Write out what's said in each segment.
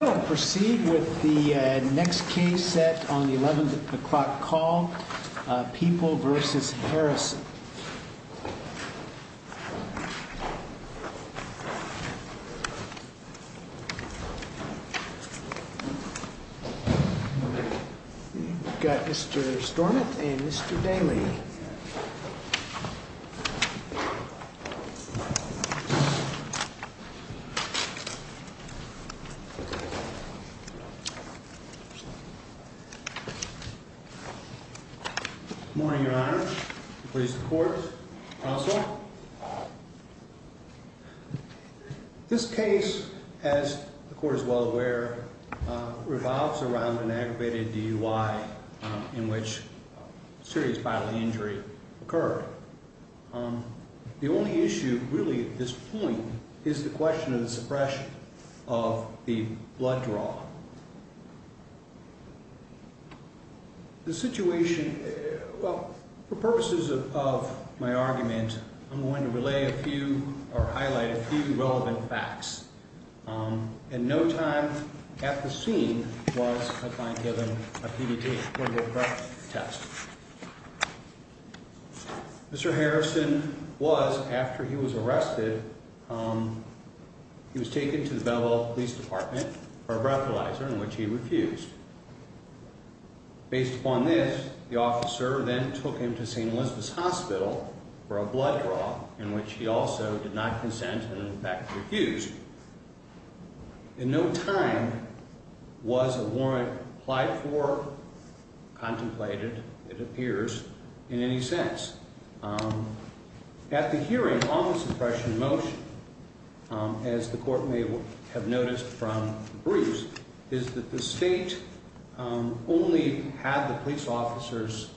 We will proceed with the next case set on the 11 o'clock call, People v. Harrison. We've got Mr. Stornit and Mr. Daley. Good morning, Your Honor. Please, the court. Counsel. This case, as the court is well aware, revolves around an aggravated DUI in which a serious bodily injury occurred. The only issue really at this point is the question of the suppression of the blood draw. The situation, well, for purposes of my argument, I'm going to relay a few or highlight a few relevant facts. And no time at the scene was, I find, given a PDT test. Mr. Harrison was, after he was arrested, he was taken to the Belleville Police Department for a breathalyzer in which he refused. Based upon this, the officer then took him to St. Elizabeth's Hospital for a blood draw in which he also did not consent and, in fact, refused. And no time was a warrant applied for, contemplated, it appears, in any sense. At the hearing on the suppression motion, as the court may have noticed from the briefs, is that the state only had the police officer's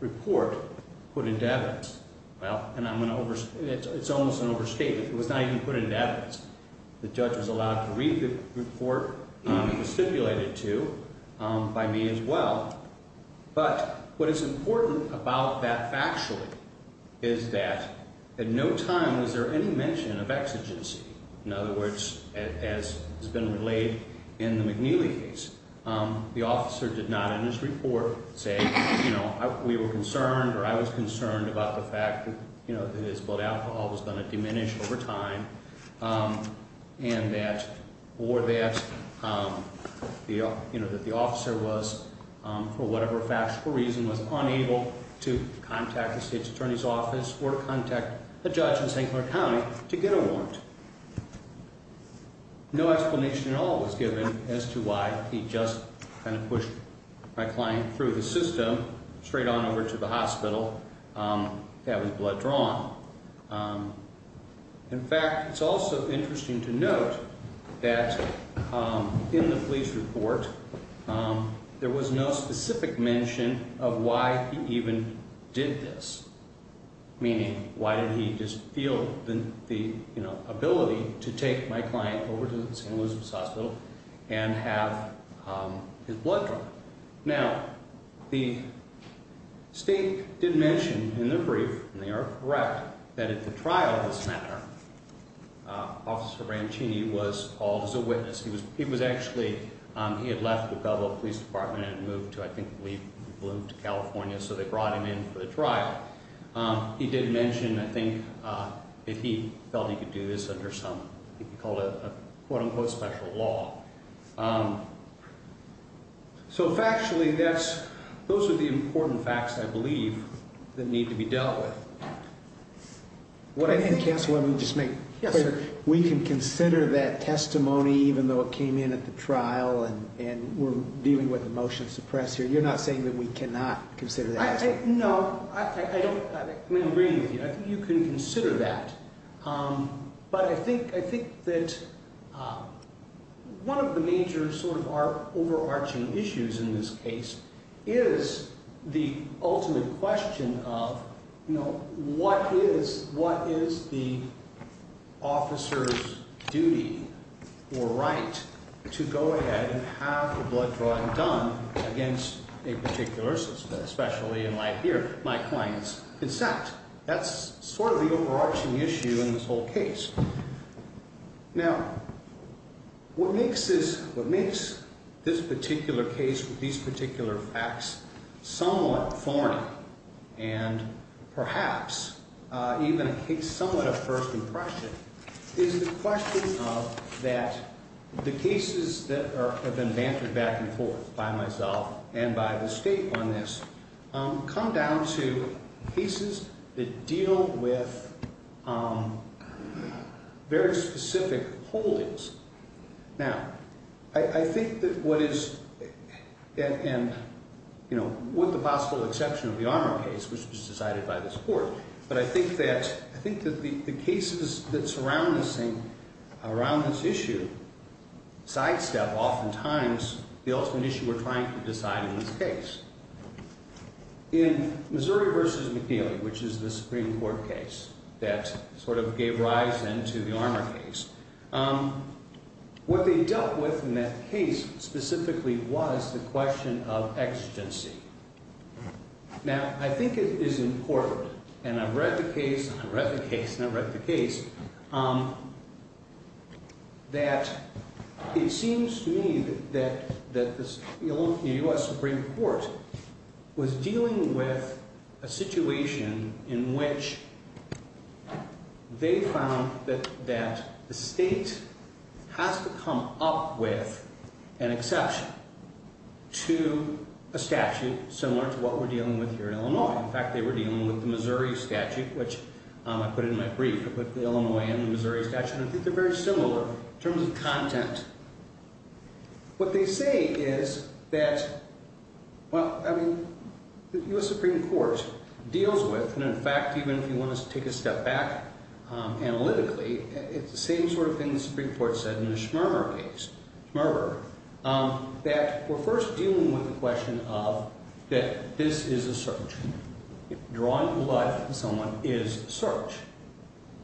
report put into evidence. Well, and I'm going to overstate, it's almost an overstatement. It was not even put into evidence. The judge was allowed to read the report. It was stipulated to by me as well. But what is important about that factually is that at no time was there any mention of exigency. In other words, as has been relayed in the McNeely case, the officer did not in his report say, you know, we were concerned or I was concerned about the fact that his blood alcohol was going to diminish over time. And that, or that, you know, that the officer was, for whatever factual reason, was unable to contact the state's attorney's office or contact a judge in St. Clair County to get a warrant. No explanation at all was given as to why he just kind of pushed my client through the system straight on over to the hospital to have his blood drawn. In fact, it's also interesting to note that in the police report, there was no specific mention of why he even did this. Meaning, why did he just feel the ability to take my client over to St. Elizabeth's Hospital and have his blood drawn? Now, the state did mention in the brief, and they are correct, that at the trial of this matter, Officer Rancini was called as a witness. He was actually, he had left the Belleville Police Department and had moved to, I think, moved to California, so they brought him in for the trial. He did mention, I think, that he felt he could do this under some, I think he called it a quote-unquote special law. So factually, that's, those are the important facts, I believe, that need to be dealt with. What I think... I think, Counsel, let me just make... Yes, sir. We can consider that testimony, even though it came in at the trial, and we're dealing with a motion to suppress here. You're not saying that we cannot consider that? No, I don't, I mean, I'm agreeing with you. I think you can consider that. But I think that one of the major sort of overarching issues in this case is the ultimate question of, you know, what is the officer's duty or right to go ahead and have the blood drawing done against a particular suspect, especially in light here, my client's consent? That's sort of the overarching issue in this whole case. Now, what makes this, what makes this particular case with these particular facts somewhat thorny, and perhaps even somewhat a first impression, is the question of that the cases that have been bantered back and forth by myself and by the State on this come down to cases that deal with very specific holdings. Now, I think that what is, and, you know, with the possible exception of the Armour case, which was decided by this Court, but I think that the cases that surround this issue sidestep oftentimes the ultimate issue we're trying to decide in this case. In Missouri v. McNeely, which is the Supreme Court case that sort of gave rise then to the Armour case, what they dealt with in that case specifically was the question of exigency. Now, I think it is important, and I've read the case, and I've read the case, and I've read the case, that it seems to me that the U.S. Supreme Court was dealing with a situation in which they found that the State has to come up with an exception to a statute similar to what we're dealing with here in Illinois. In fact, they were dealing with the Missouri statute, which I put in my brief. I put the Illinois and the Missouri statute, and I think they're very similar in terms of content. What they say is that, well, I mean, the U.S. Supreme Court deals with, and in fact, even if you want to take a step back analytically, it's the same sort of thing the Supreme Court said in the Schmerber case, Schmerber, that we're first dealing with the question of that this is a search. Drawing blood from someone is a search.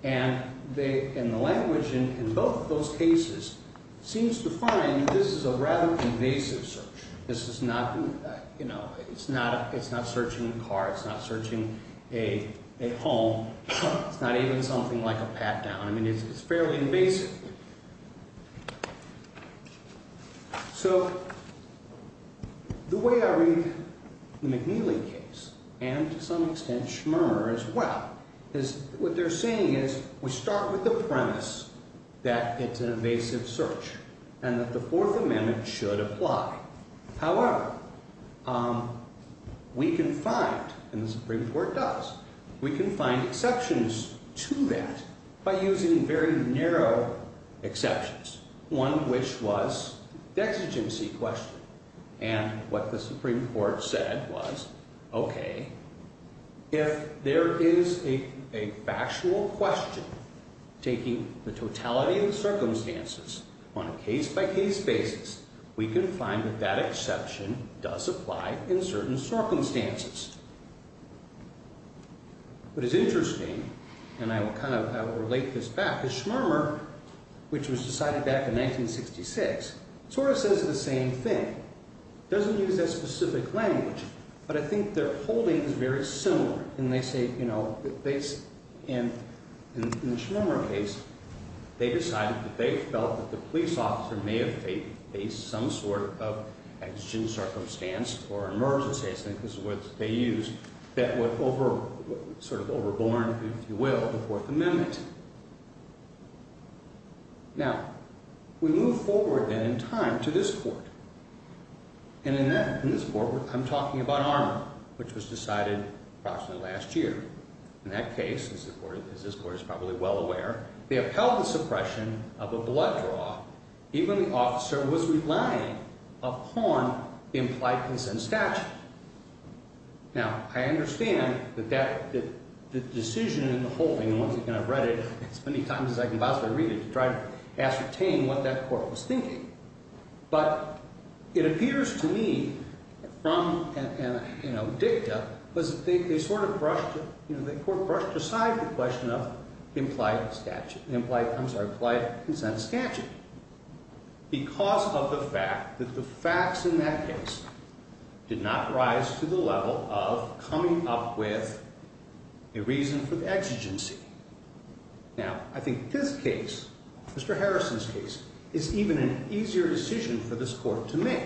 And the language in both of those cases seems to find this is a rather invasive search. This is not, you know, it's not searching a car. It's not searching a home. It's not even something like a pat-down. I mean, it's fairly invasive. So the way I read the McNeely case, and to some extent Schmerber as well, is what they're saying is we start with the premise that it's an invasive search and that the Fourth Amendment should apply. However, we can find, and the Supreme Court does, we can find exceptions to that by using very narrow exceptions, one of which was the exigency question. And what the Supreme Court said was, okay, if there is a factual question taking the totality of the circumstances on a case-by-case basis, we can find that that exception does apply in certain circumstances. What is interesting, and I will kind of relate this back, is Schmerber, which was decided back in 1966, sort of says the same thing. It doesn't use that specific language, but I think their holding is very similar. And they say, you know, in the Schmerber case, they decided that they felt that the police officer may have faced some sort of exigent circumstance or emergency, I think is what they used, that would sort of overborne, if you will, the Fourth Amendment. Now, we move forward then in time to this Court. And in this Court, I'm talking about Armour, which was decided approximately last year. In that case, as this Court is probably well aware, they upheld the suppression of a blood draw even when the officer was relying upon the implied consent statute. Now, I understand that the decision in the holding, and once again, I've read it as many times as I can possibly read it, to try to ascertain what that Court was thinking. But it appears to me, from dicta, was that they sort of brushed aside the question of implied consent statute because of the fact that the facts in that case did not rise to the level of coming up with a reason for the exigency. Now, I think this case, Mr. Harrison's case, is even an easier decision for this Court to make.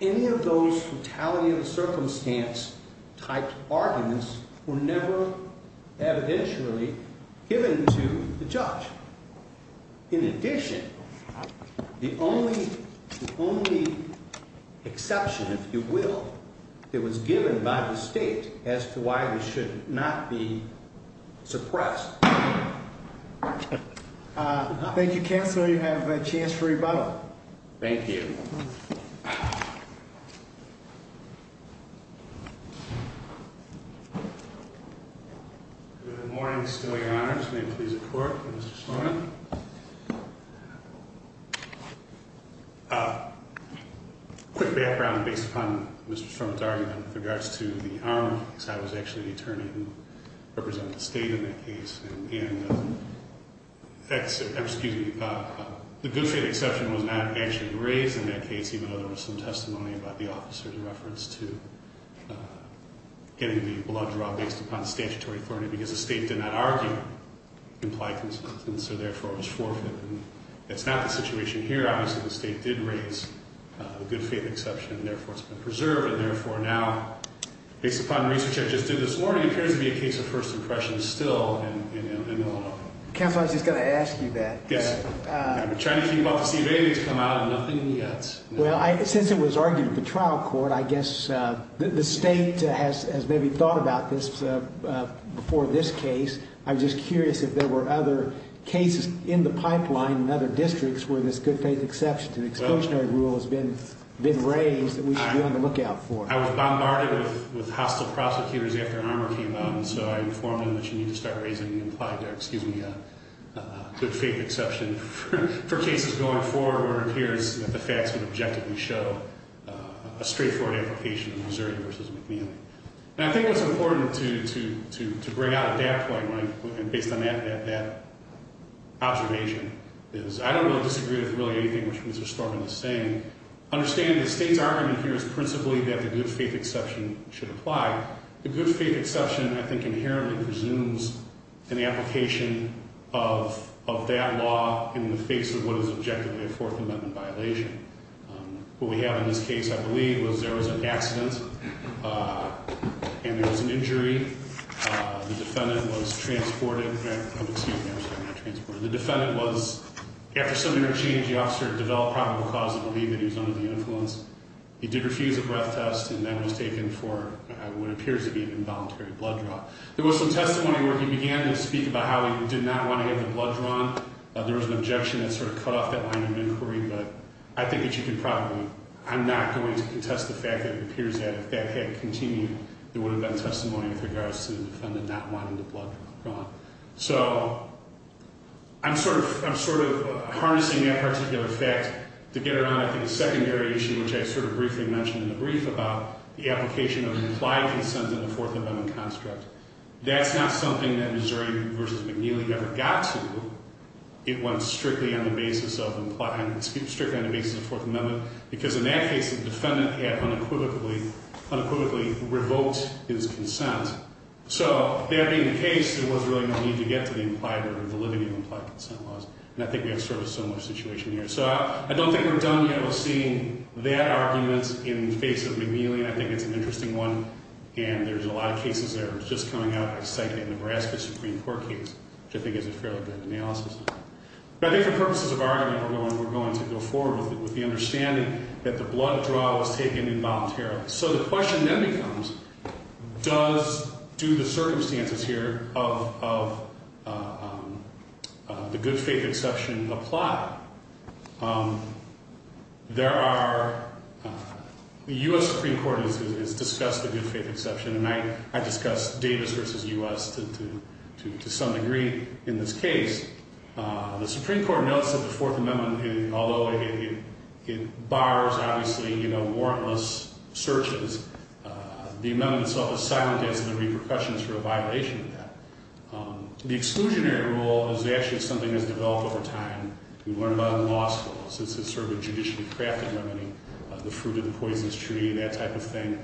None of those fatality of circumstance type arguments were never evidentially given to the judge. In addition, the only exception, if you will, that was given by the State as to why they should not be suppressed. Thank you, Counselor. You have a chance for rebuttal. Thank you. Good morning. Still your Honor. May it please the Court, Mr. Stroman. Quick background based upon Mr. Stroman's argument with regards to the arm, because I was actually the attorney who represented the State in that case. And the good faith exception was not actually raised in that case, even though there was some testimony about the officer's reference to getting the blood draw based upon statutory authority because the State did not argue implied consent, and so therefore it was forfeited. And that's not the situation here. Obviously, the State did raise the good faith exception, and therefore it's been preserved. And therefore now, based upon research I just did this morning, it appears to be a case of first impressions still in Illinois. Counselor, I was just going to ask you that. Yes. I've been trying to keep up to see if anything's come out of nothing yet. Well, since it was argued at the trial court, I guess the State has maybe thought about this before this case. I was just curious if there were other cases in the pipeline in other districts where this good faith exception to the Expulsionary Rule has been raised that we should be on the lookout for. I was bombarded with hostile prosecutors after Armour came out, and so I informed them that you need to start raising the implied, excuse me, good faith exception for cases going forward where it appears that the facts would objectively show a straightforward application of Missouri v. McNeely. And I think what's important to bring out at that point, based on that observation, is I don't really disagree with really anything which Mr. Storman is saying. Understanding the State's argument here is principally that the good faith exception should apply. The good faith exception, I think, inherently presumes an application of that law in the face of what is objectively a Fourth Amendment violation. What we have in this case, I believe, was there was an accident and there was an injury. The defendant was transported, excuse me, I'm sorry, not transported. The defendant was, after some interchange, the officer developed probable cause to believe that he was under the influence. He did refuse a breath test, and that was taken for what appears to be an involuntary blood draw. There was some testimony where he began to speak about how he did not want to have the blood drawn. There was an objection that sort of cut off that line of inquiry. But I think that you can probably, I'm not going to contest the fact that it appears that if that had continued, there would have been testimony with regards to the defendant not wanting the blood drawn. So I'm sort of harnessing that particular fact to get around, I think, a secondary issue, which I sort of briefly mentioned in the brief about the application of implied consent in the Fourth Amendment construct. That's not something that Missouri v. McNeely ever got to. It went strictly on the basis of implied, strictly on the basis of Fourth Amendment, because in that case, the defendant had unequivocally revoked his consent. So that being the case, there was really no need to get to the implied or the living of implied consent laws. And I think we have sort of a similar situation here. So I don't think we're done yet with seeing that argument in the face of McNeely, and I think it's an interesting one. And there's a lot of cases that are just coming out, like the Nebraska Supreme Court case, which I think is a fairly good analysis. But I think for purposes of argument, we're going to go forward with the understanding that the blood draw was taken involuntarily. So the question then becomes, does due to circumstances here of the good faith exception apply? There are – the U.S. Supreme Court has discussed the good faith exception, and I discussed Davis v. U.S. to some degree in this case. The Supreme Court notes that the Fourth Amendment, although it bars, obviously, warrantless searches, the amendment silences the repercussions for a violation of that. The exclusionary rule is actually something that's developed over time. We learned about it in law school. It's sort of a judicially crafted remedy, the fruit of the poisonous tree, that type of thing,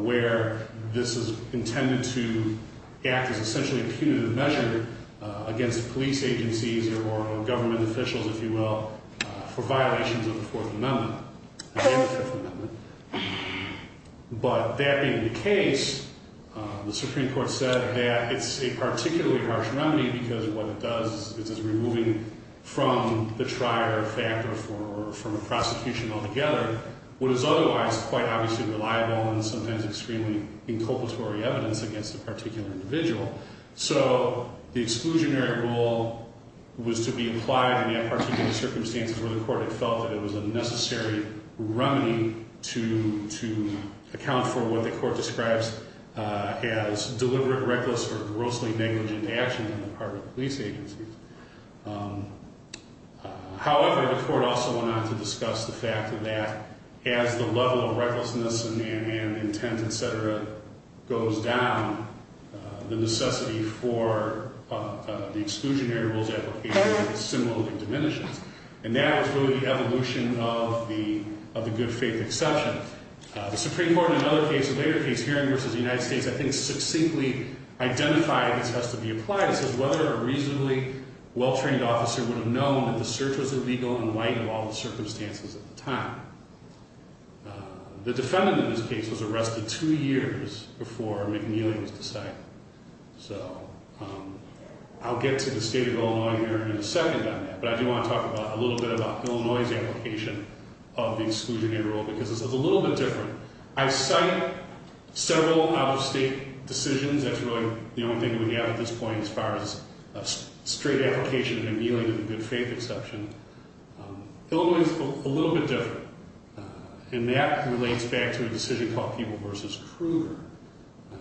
where this is intended to act as essentially a punitive measure against police agencies or government officials, if you will, for violations of the Fourth Amendment and the Fifth Amendment. But that being the case, the Supreme Court said that it's a particularly harsh remedy because what it does is it's removing from the trier factor from a prosecution altogether what is otherwise quite obviously reliable and sometimes extremely inculpatory evidence against a particular individual. So the exclusionary rule was to be applied in that particular circumstance where the court had felt that it was a necessary remedy to account for what the court describes as deliberate, reckless, or grossly negligent action on the part of police agencies. However, the court also went on to discuss the fact that as the level of recklessness and intent, et cetera, goes down, the necessity for the exclusionary rules application similarly diminishes. And that was really the evolution of the good faith exception. The Supreme Court in another case, a later case, Hearing v. United States, I think succinctly identified this has to be applied. It says whether a reasonably well-trained officer would have known that the search was illegal in light of all the circumstances at the time. The defendant in this case was arrested two years before McNeely was decided. So I'll get to the state of Illinois here in a second on that. But I do want to talk a little bit about Illinois' application of the exclusionary rule because it's a little bit different. I cite several out-of-state decisions. That's really the only thing we have at this point as far as a straight application of McNeely and the good faith exception. Illinois is a little bit different. And that relates back to a decision called Peeble v. Kruger.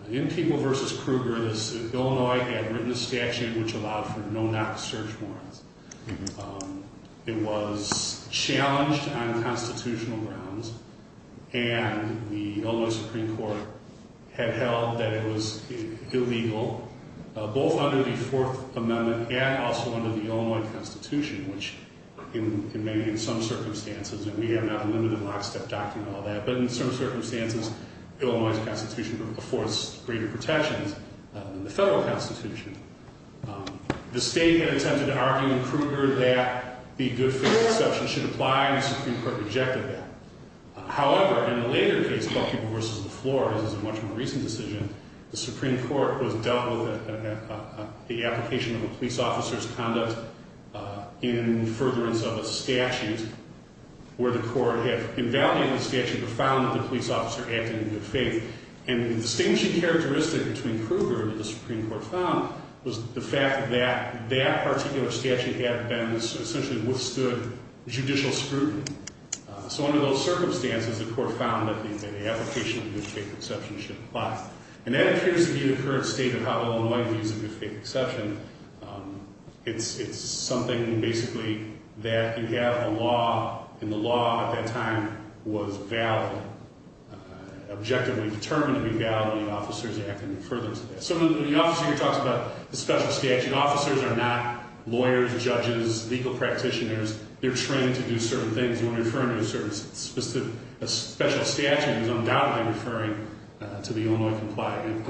In Peeble v. Kruger, Illinois had written a statute which allowed for no-knock search warrants. It was challenged on constitutional grounds. And the Illinois Supreme Court had held that it was illegal both under the Fourth Amendment and also under the Illinois Constitution, which in some circumstances, and we have not a limited lockstep document on that, but in some circumstances, the Illinois Constitution affords greater protections than the federal Constitution. The state had attempted to argue in Kruger that the good faith exception should apply, and the Supreme Court rejected that. However, in a later case called Peeble v. La Flores, a much more recent decision, the Supreme Court was dealt with the application of a police officer's conduct in furtherance of a statute where the court had invalidated the statute but found that the police officer acted in good faith. And the distinguishing characteristic between Kruger and the Supreme Court found was the fact that that particular statute had been essentially withstood judicial scrutiny. So under those circumstances, the court found that the application of the good faith exception should apply. And that appears to be the current state of how Illinois views the good faith exception. It's something basically that you have a law, and the law at that time was valid, objectively determined to be valid, and officers acted in furtherance of that. So the officer here talks about the special statute. Officers are not lawyers, judges, legal practitioners. They're trained to do certain things. A special statute is undoubtedly referring to the Illinois Compliant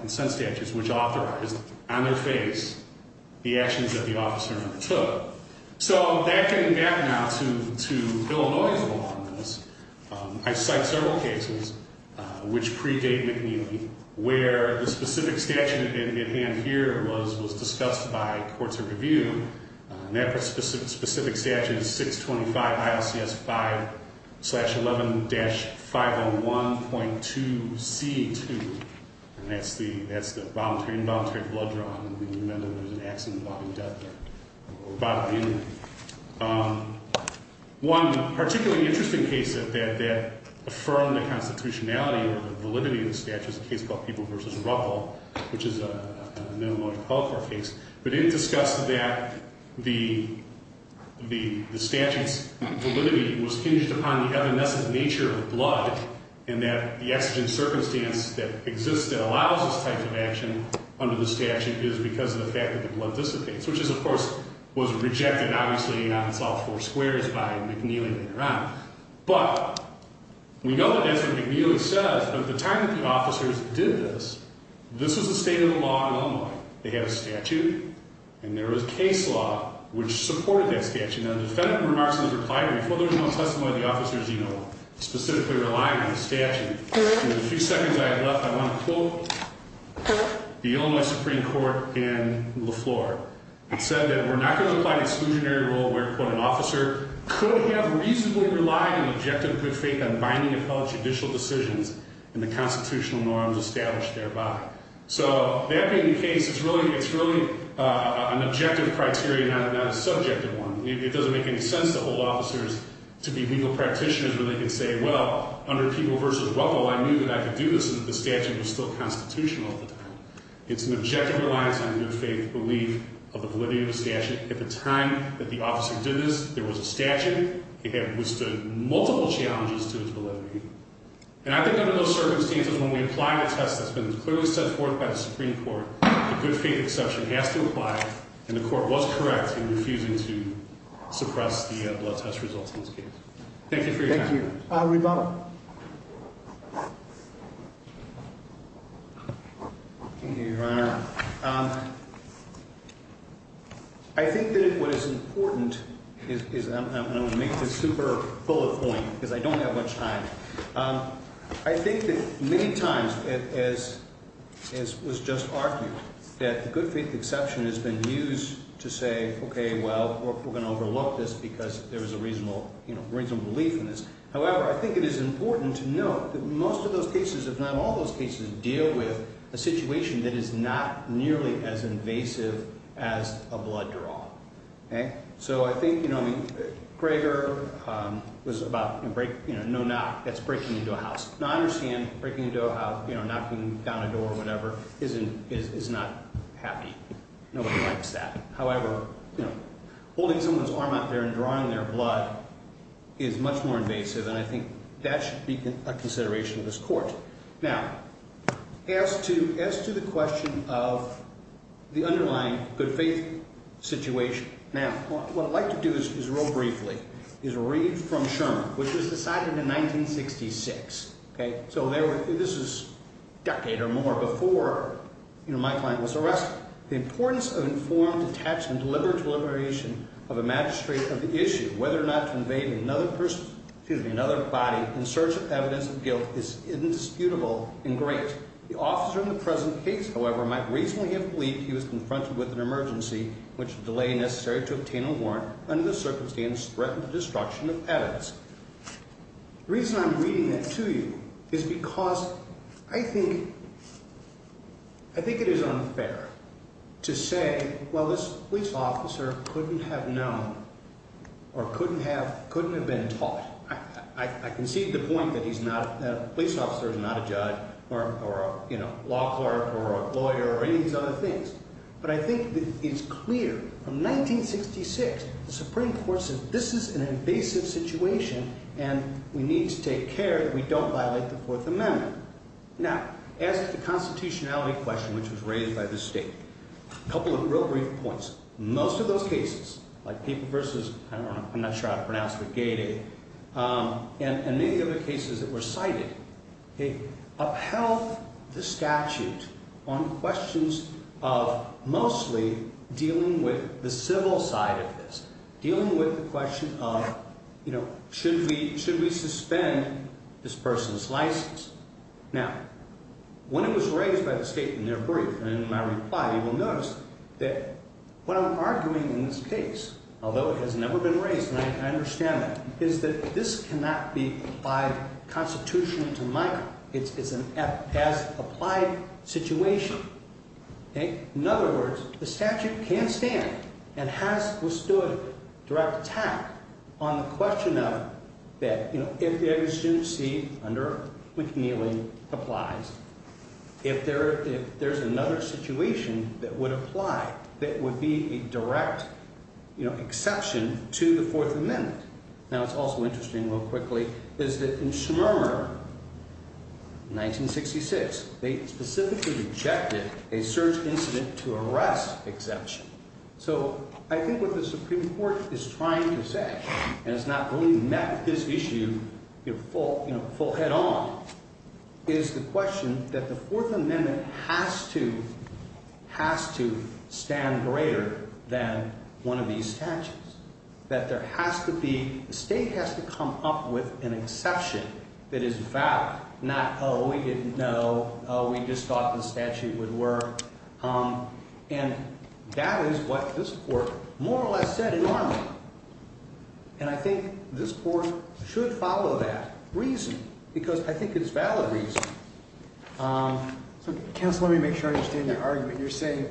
Consent Statutes, which authorized, on their face, the actions that the officer undertook. So that can map now to Illinois' law on this. I cite several cases which predate McNeely where the specific statute at hand here was discussed by courts of review. And that specific statute is 625 ILCS 5-11-501.2C2. And that's the involuntary blood draw. And we can remember there was an accident involving death there or bodily injury. One particularly interesting case that affirmed the constitutionality or the validity of the statute is a case called People v. Ruffle, which is an Illinois appellate court case. But it discussed that the statute's validity was hinged upon the evanescent nature of the blood and that the exigent circumstance that exists that allows this type of action under the statute is because of the fact that the blood dissipates, which is, of course, was rejected, obviously, on South Four Squares by McNeely later on. But we know that that's what McNeely says. But at the time that the officers did this, this was the state of the law in Illinois. They had a statute. And there was case law which supported that statute. Now, the defendant remarks in the reply, before there was no testimony, the officers, you know, specifically relied on the statute. In the few seconds I have left, I want to quote the Illinois Supreme Court in Leflore. It said that we're not going to apply the exclusionary rule where, quote, an officer could have reasonably relied in objective good faith on binding appellate judicial decisions and the constitutional norms established thereby. So that being the case, it's really an objective criteria, not a subjective one. It doesn't make any sense to hold officers to be legal practitioners where they can say, well, under People v. Ruffle, I knew that I could do this if the statute was still constitutional at the time. It's an objective reliance on good faith belief of the validity of the statute. At the time that the officer did this, there was a statute. It had withstood multiple challenges to its validity. And I think under those circumstances, when we apply the test that's been clearly set forth by the Supreme Court, a good faith exception has to apply. And the court was correct in refusing to suppress the blood test results in this case. Thank you for your time. Thank you. Rebottom. Thank you, Your Honor. I think that what is important is I'm going to make this super full of point because I don't have much time. I think that many times, as was just argued, that the good faith exception has been used to say, okay, well, we're going to overlook this because there is a reasonable belief in this. However, I think it is important to note that most of those cases, if not all those cases, deal with a situation that is not nearly as invasive as a blood draw. So I think, you know, Gregor was about, you know, no knock. That's breaking into a house. Now, I understand breaking into a house, you know, knocking down a door or whatever is not happy. Nobody likes that. However, you know, holding someone's arm out there and drawing their blood is much more invasive, and I think that should be a consideration of this court. Now, as to the question of the underlying good faith situation, now, what I'd like to do is real briefly is read from Sherman, which was decided in 1966. Okay. So this is a decade or more before, you know, my client was arrested. The importance of informed detachment, deliberate deliberation of a magistrate of the issue, whether or not to invade another person, excuse me, another body in search of evidence of guilt is indisputable and great. The officer in the present case, however, might reasonably have believed he was confronted with an emergency which would delay necessary to obtain a warrant under the circumstance threatened with destruction of evidence. The reason I'm reading that to you is because I think it is unfair to say, well, this police officer couldn't have known or couldn't have been taught. I concede the point that he's not, that a police officer is not a judge or a, you know, law clerk or a lawyer or any of these other things. But I think it's clear from 1966 the Supreme Court said this is an invasive situation and we need to take care that we don't violate the Fourth Amendment. Now, as to the constitutionality question which was raised by the state, a couple of real brief points. Most of those cases, like people versus, I don't know, I'm not sure how to pronounce it, gated, and many of the cases that were cited upheld the statute on questions of mostly dealing with the civil side of this. Dealing with the question of, you know, should we suspend this person's license? Now, when it was raised by the state in their brief and in my reply, you will notice that what I'm arguing in this case, although it has never been raised and I understand that, is that this cannot be applied constitutionally to Michael. It's an as-applied situation. In other words, the statute can't stand and has withstood direct attack on the question of that, you know, if there is a student seat under which kneeling applies, if there's another situation that would apply that would be a direct, you know, exception to the Fourth Amendment. Now, it's also interesting, real quickly, is that in Schmermer, 1966, they specifically rejected a search incident to arrest exception. So, I think what the Supreme Court is trying to say, and it's not really met with this issue, you know, full head-on, is the question that the Fourth Amendment has to stand greater than one of these statutes. That there has to be, the state has to come up with an exception that is valid, not, oh, we didn't know, oh, we just thought the statute would work. And that is what this Court more or less said in Norman. And I think this Court should follow that reason because I think it's valid reason. So, counsel, let me make sure I understand your argument. You're saying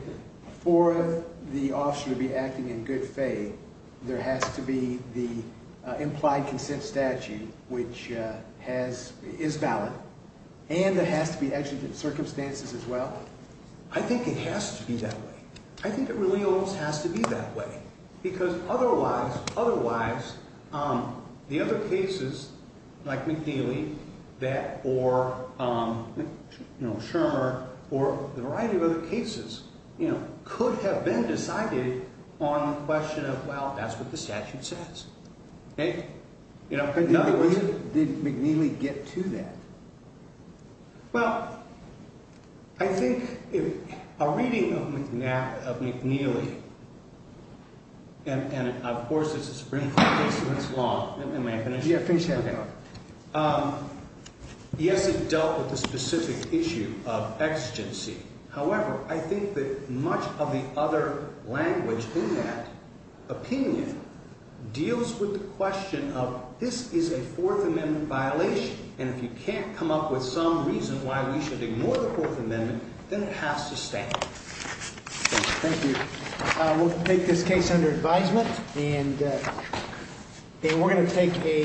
for the officer to be acting in good faith, there has to be the implied consent statute, which has, is valid, and there has to be exigent circumstances as well? I think it has to be that way. I think it really almost has to be that way. Because otherwise, otherwise, the other cases, like McNeely, that, or, you know, Schmermer, or a variety of other cases, you know, could have been decided on the question of, well, that's what the statute says. Okay? Did McNeely get to that? Well, I think a reading of McNeely, and of course it's a Supreme Court case, and it's long. Am I finished? Yeah, finish it up. Okay. Yes, it dealt with the specific issue of exigency. However, I think that much of the other language in that opinion deals with the question of, this is a Fourth Amendment violation, and if you can't come up with some reason why we should ignore the Fourth Amendment, then it has to stay. Thank you. We'll take this case under advisement, and we're going to take a...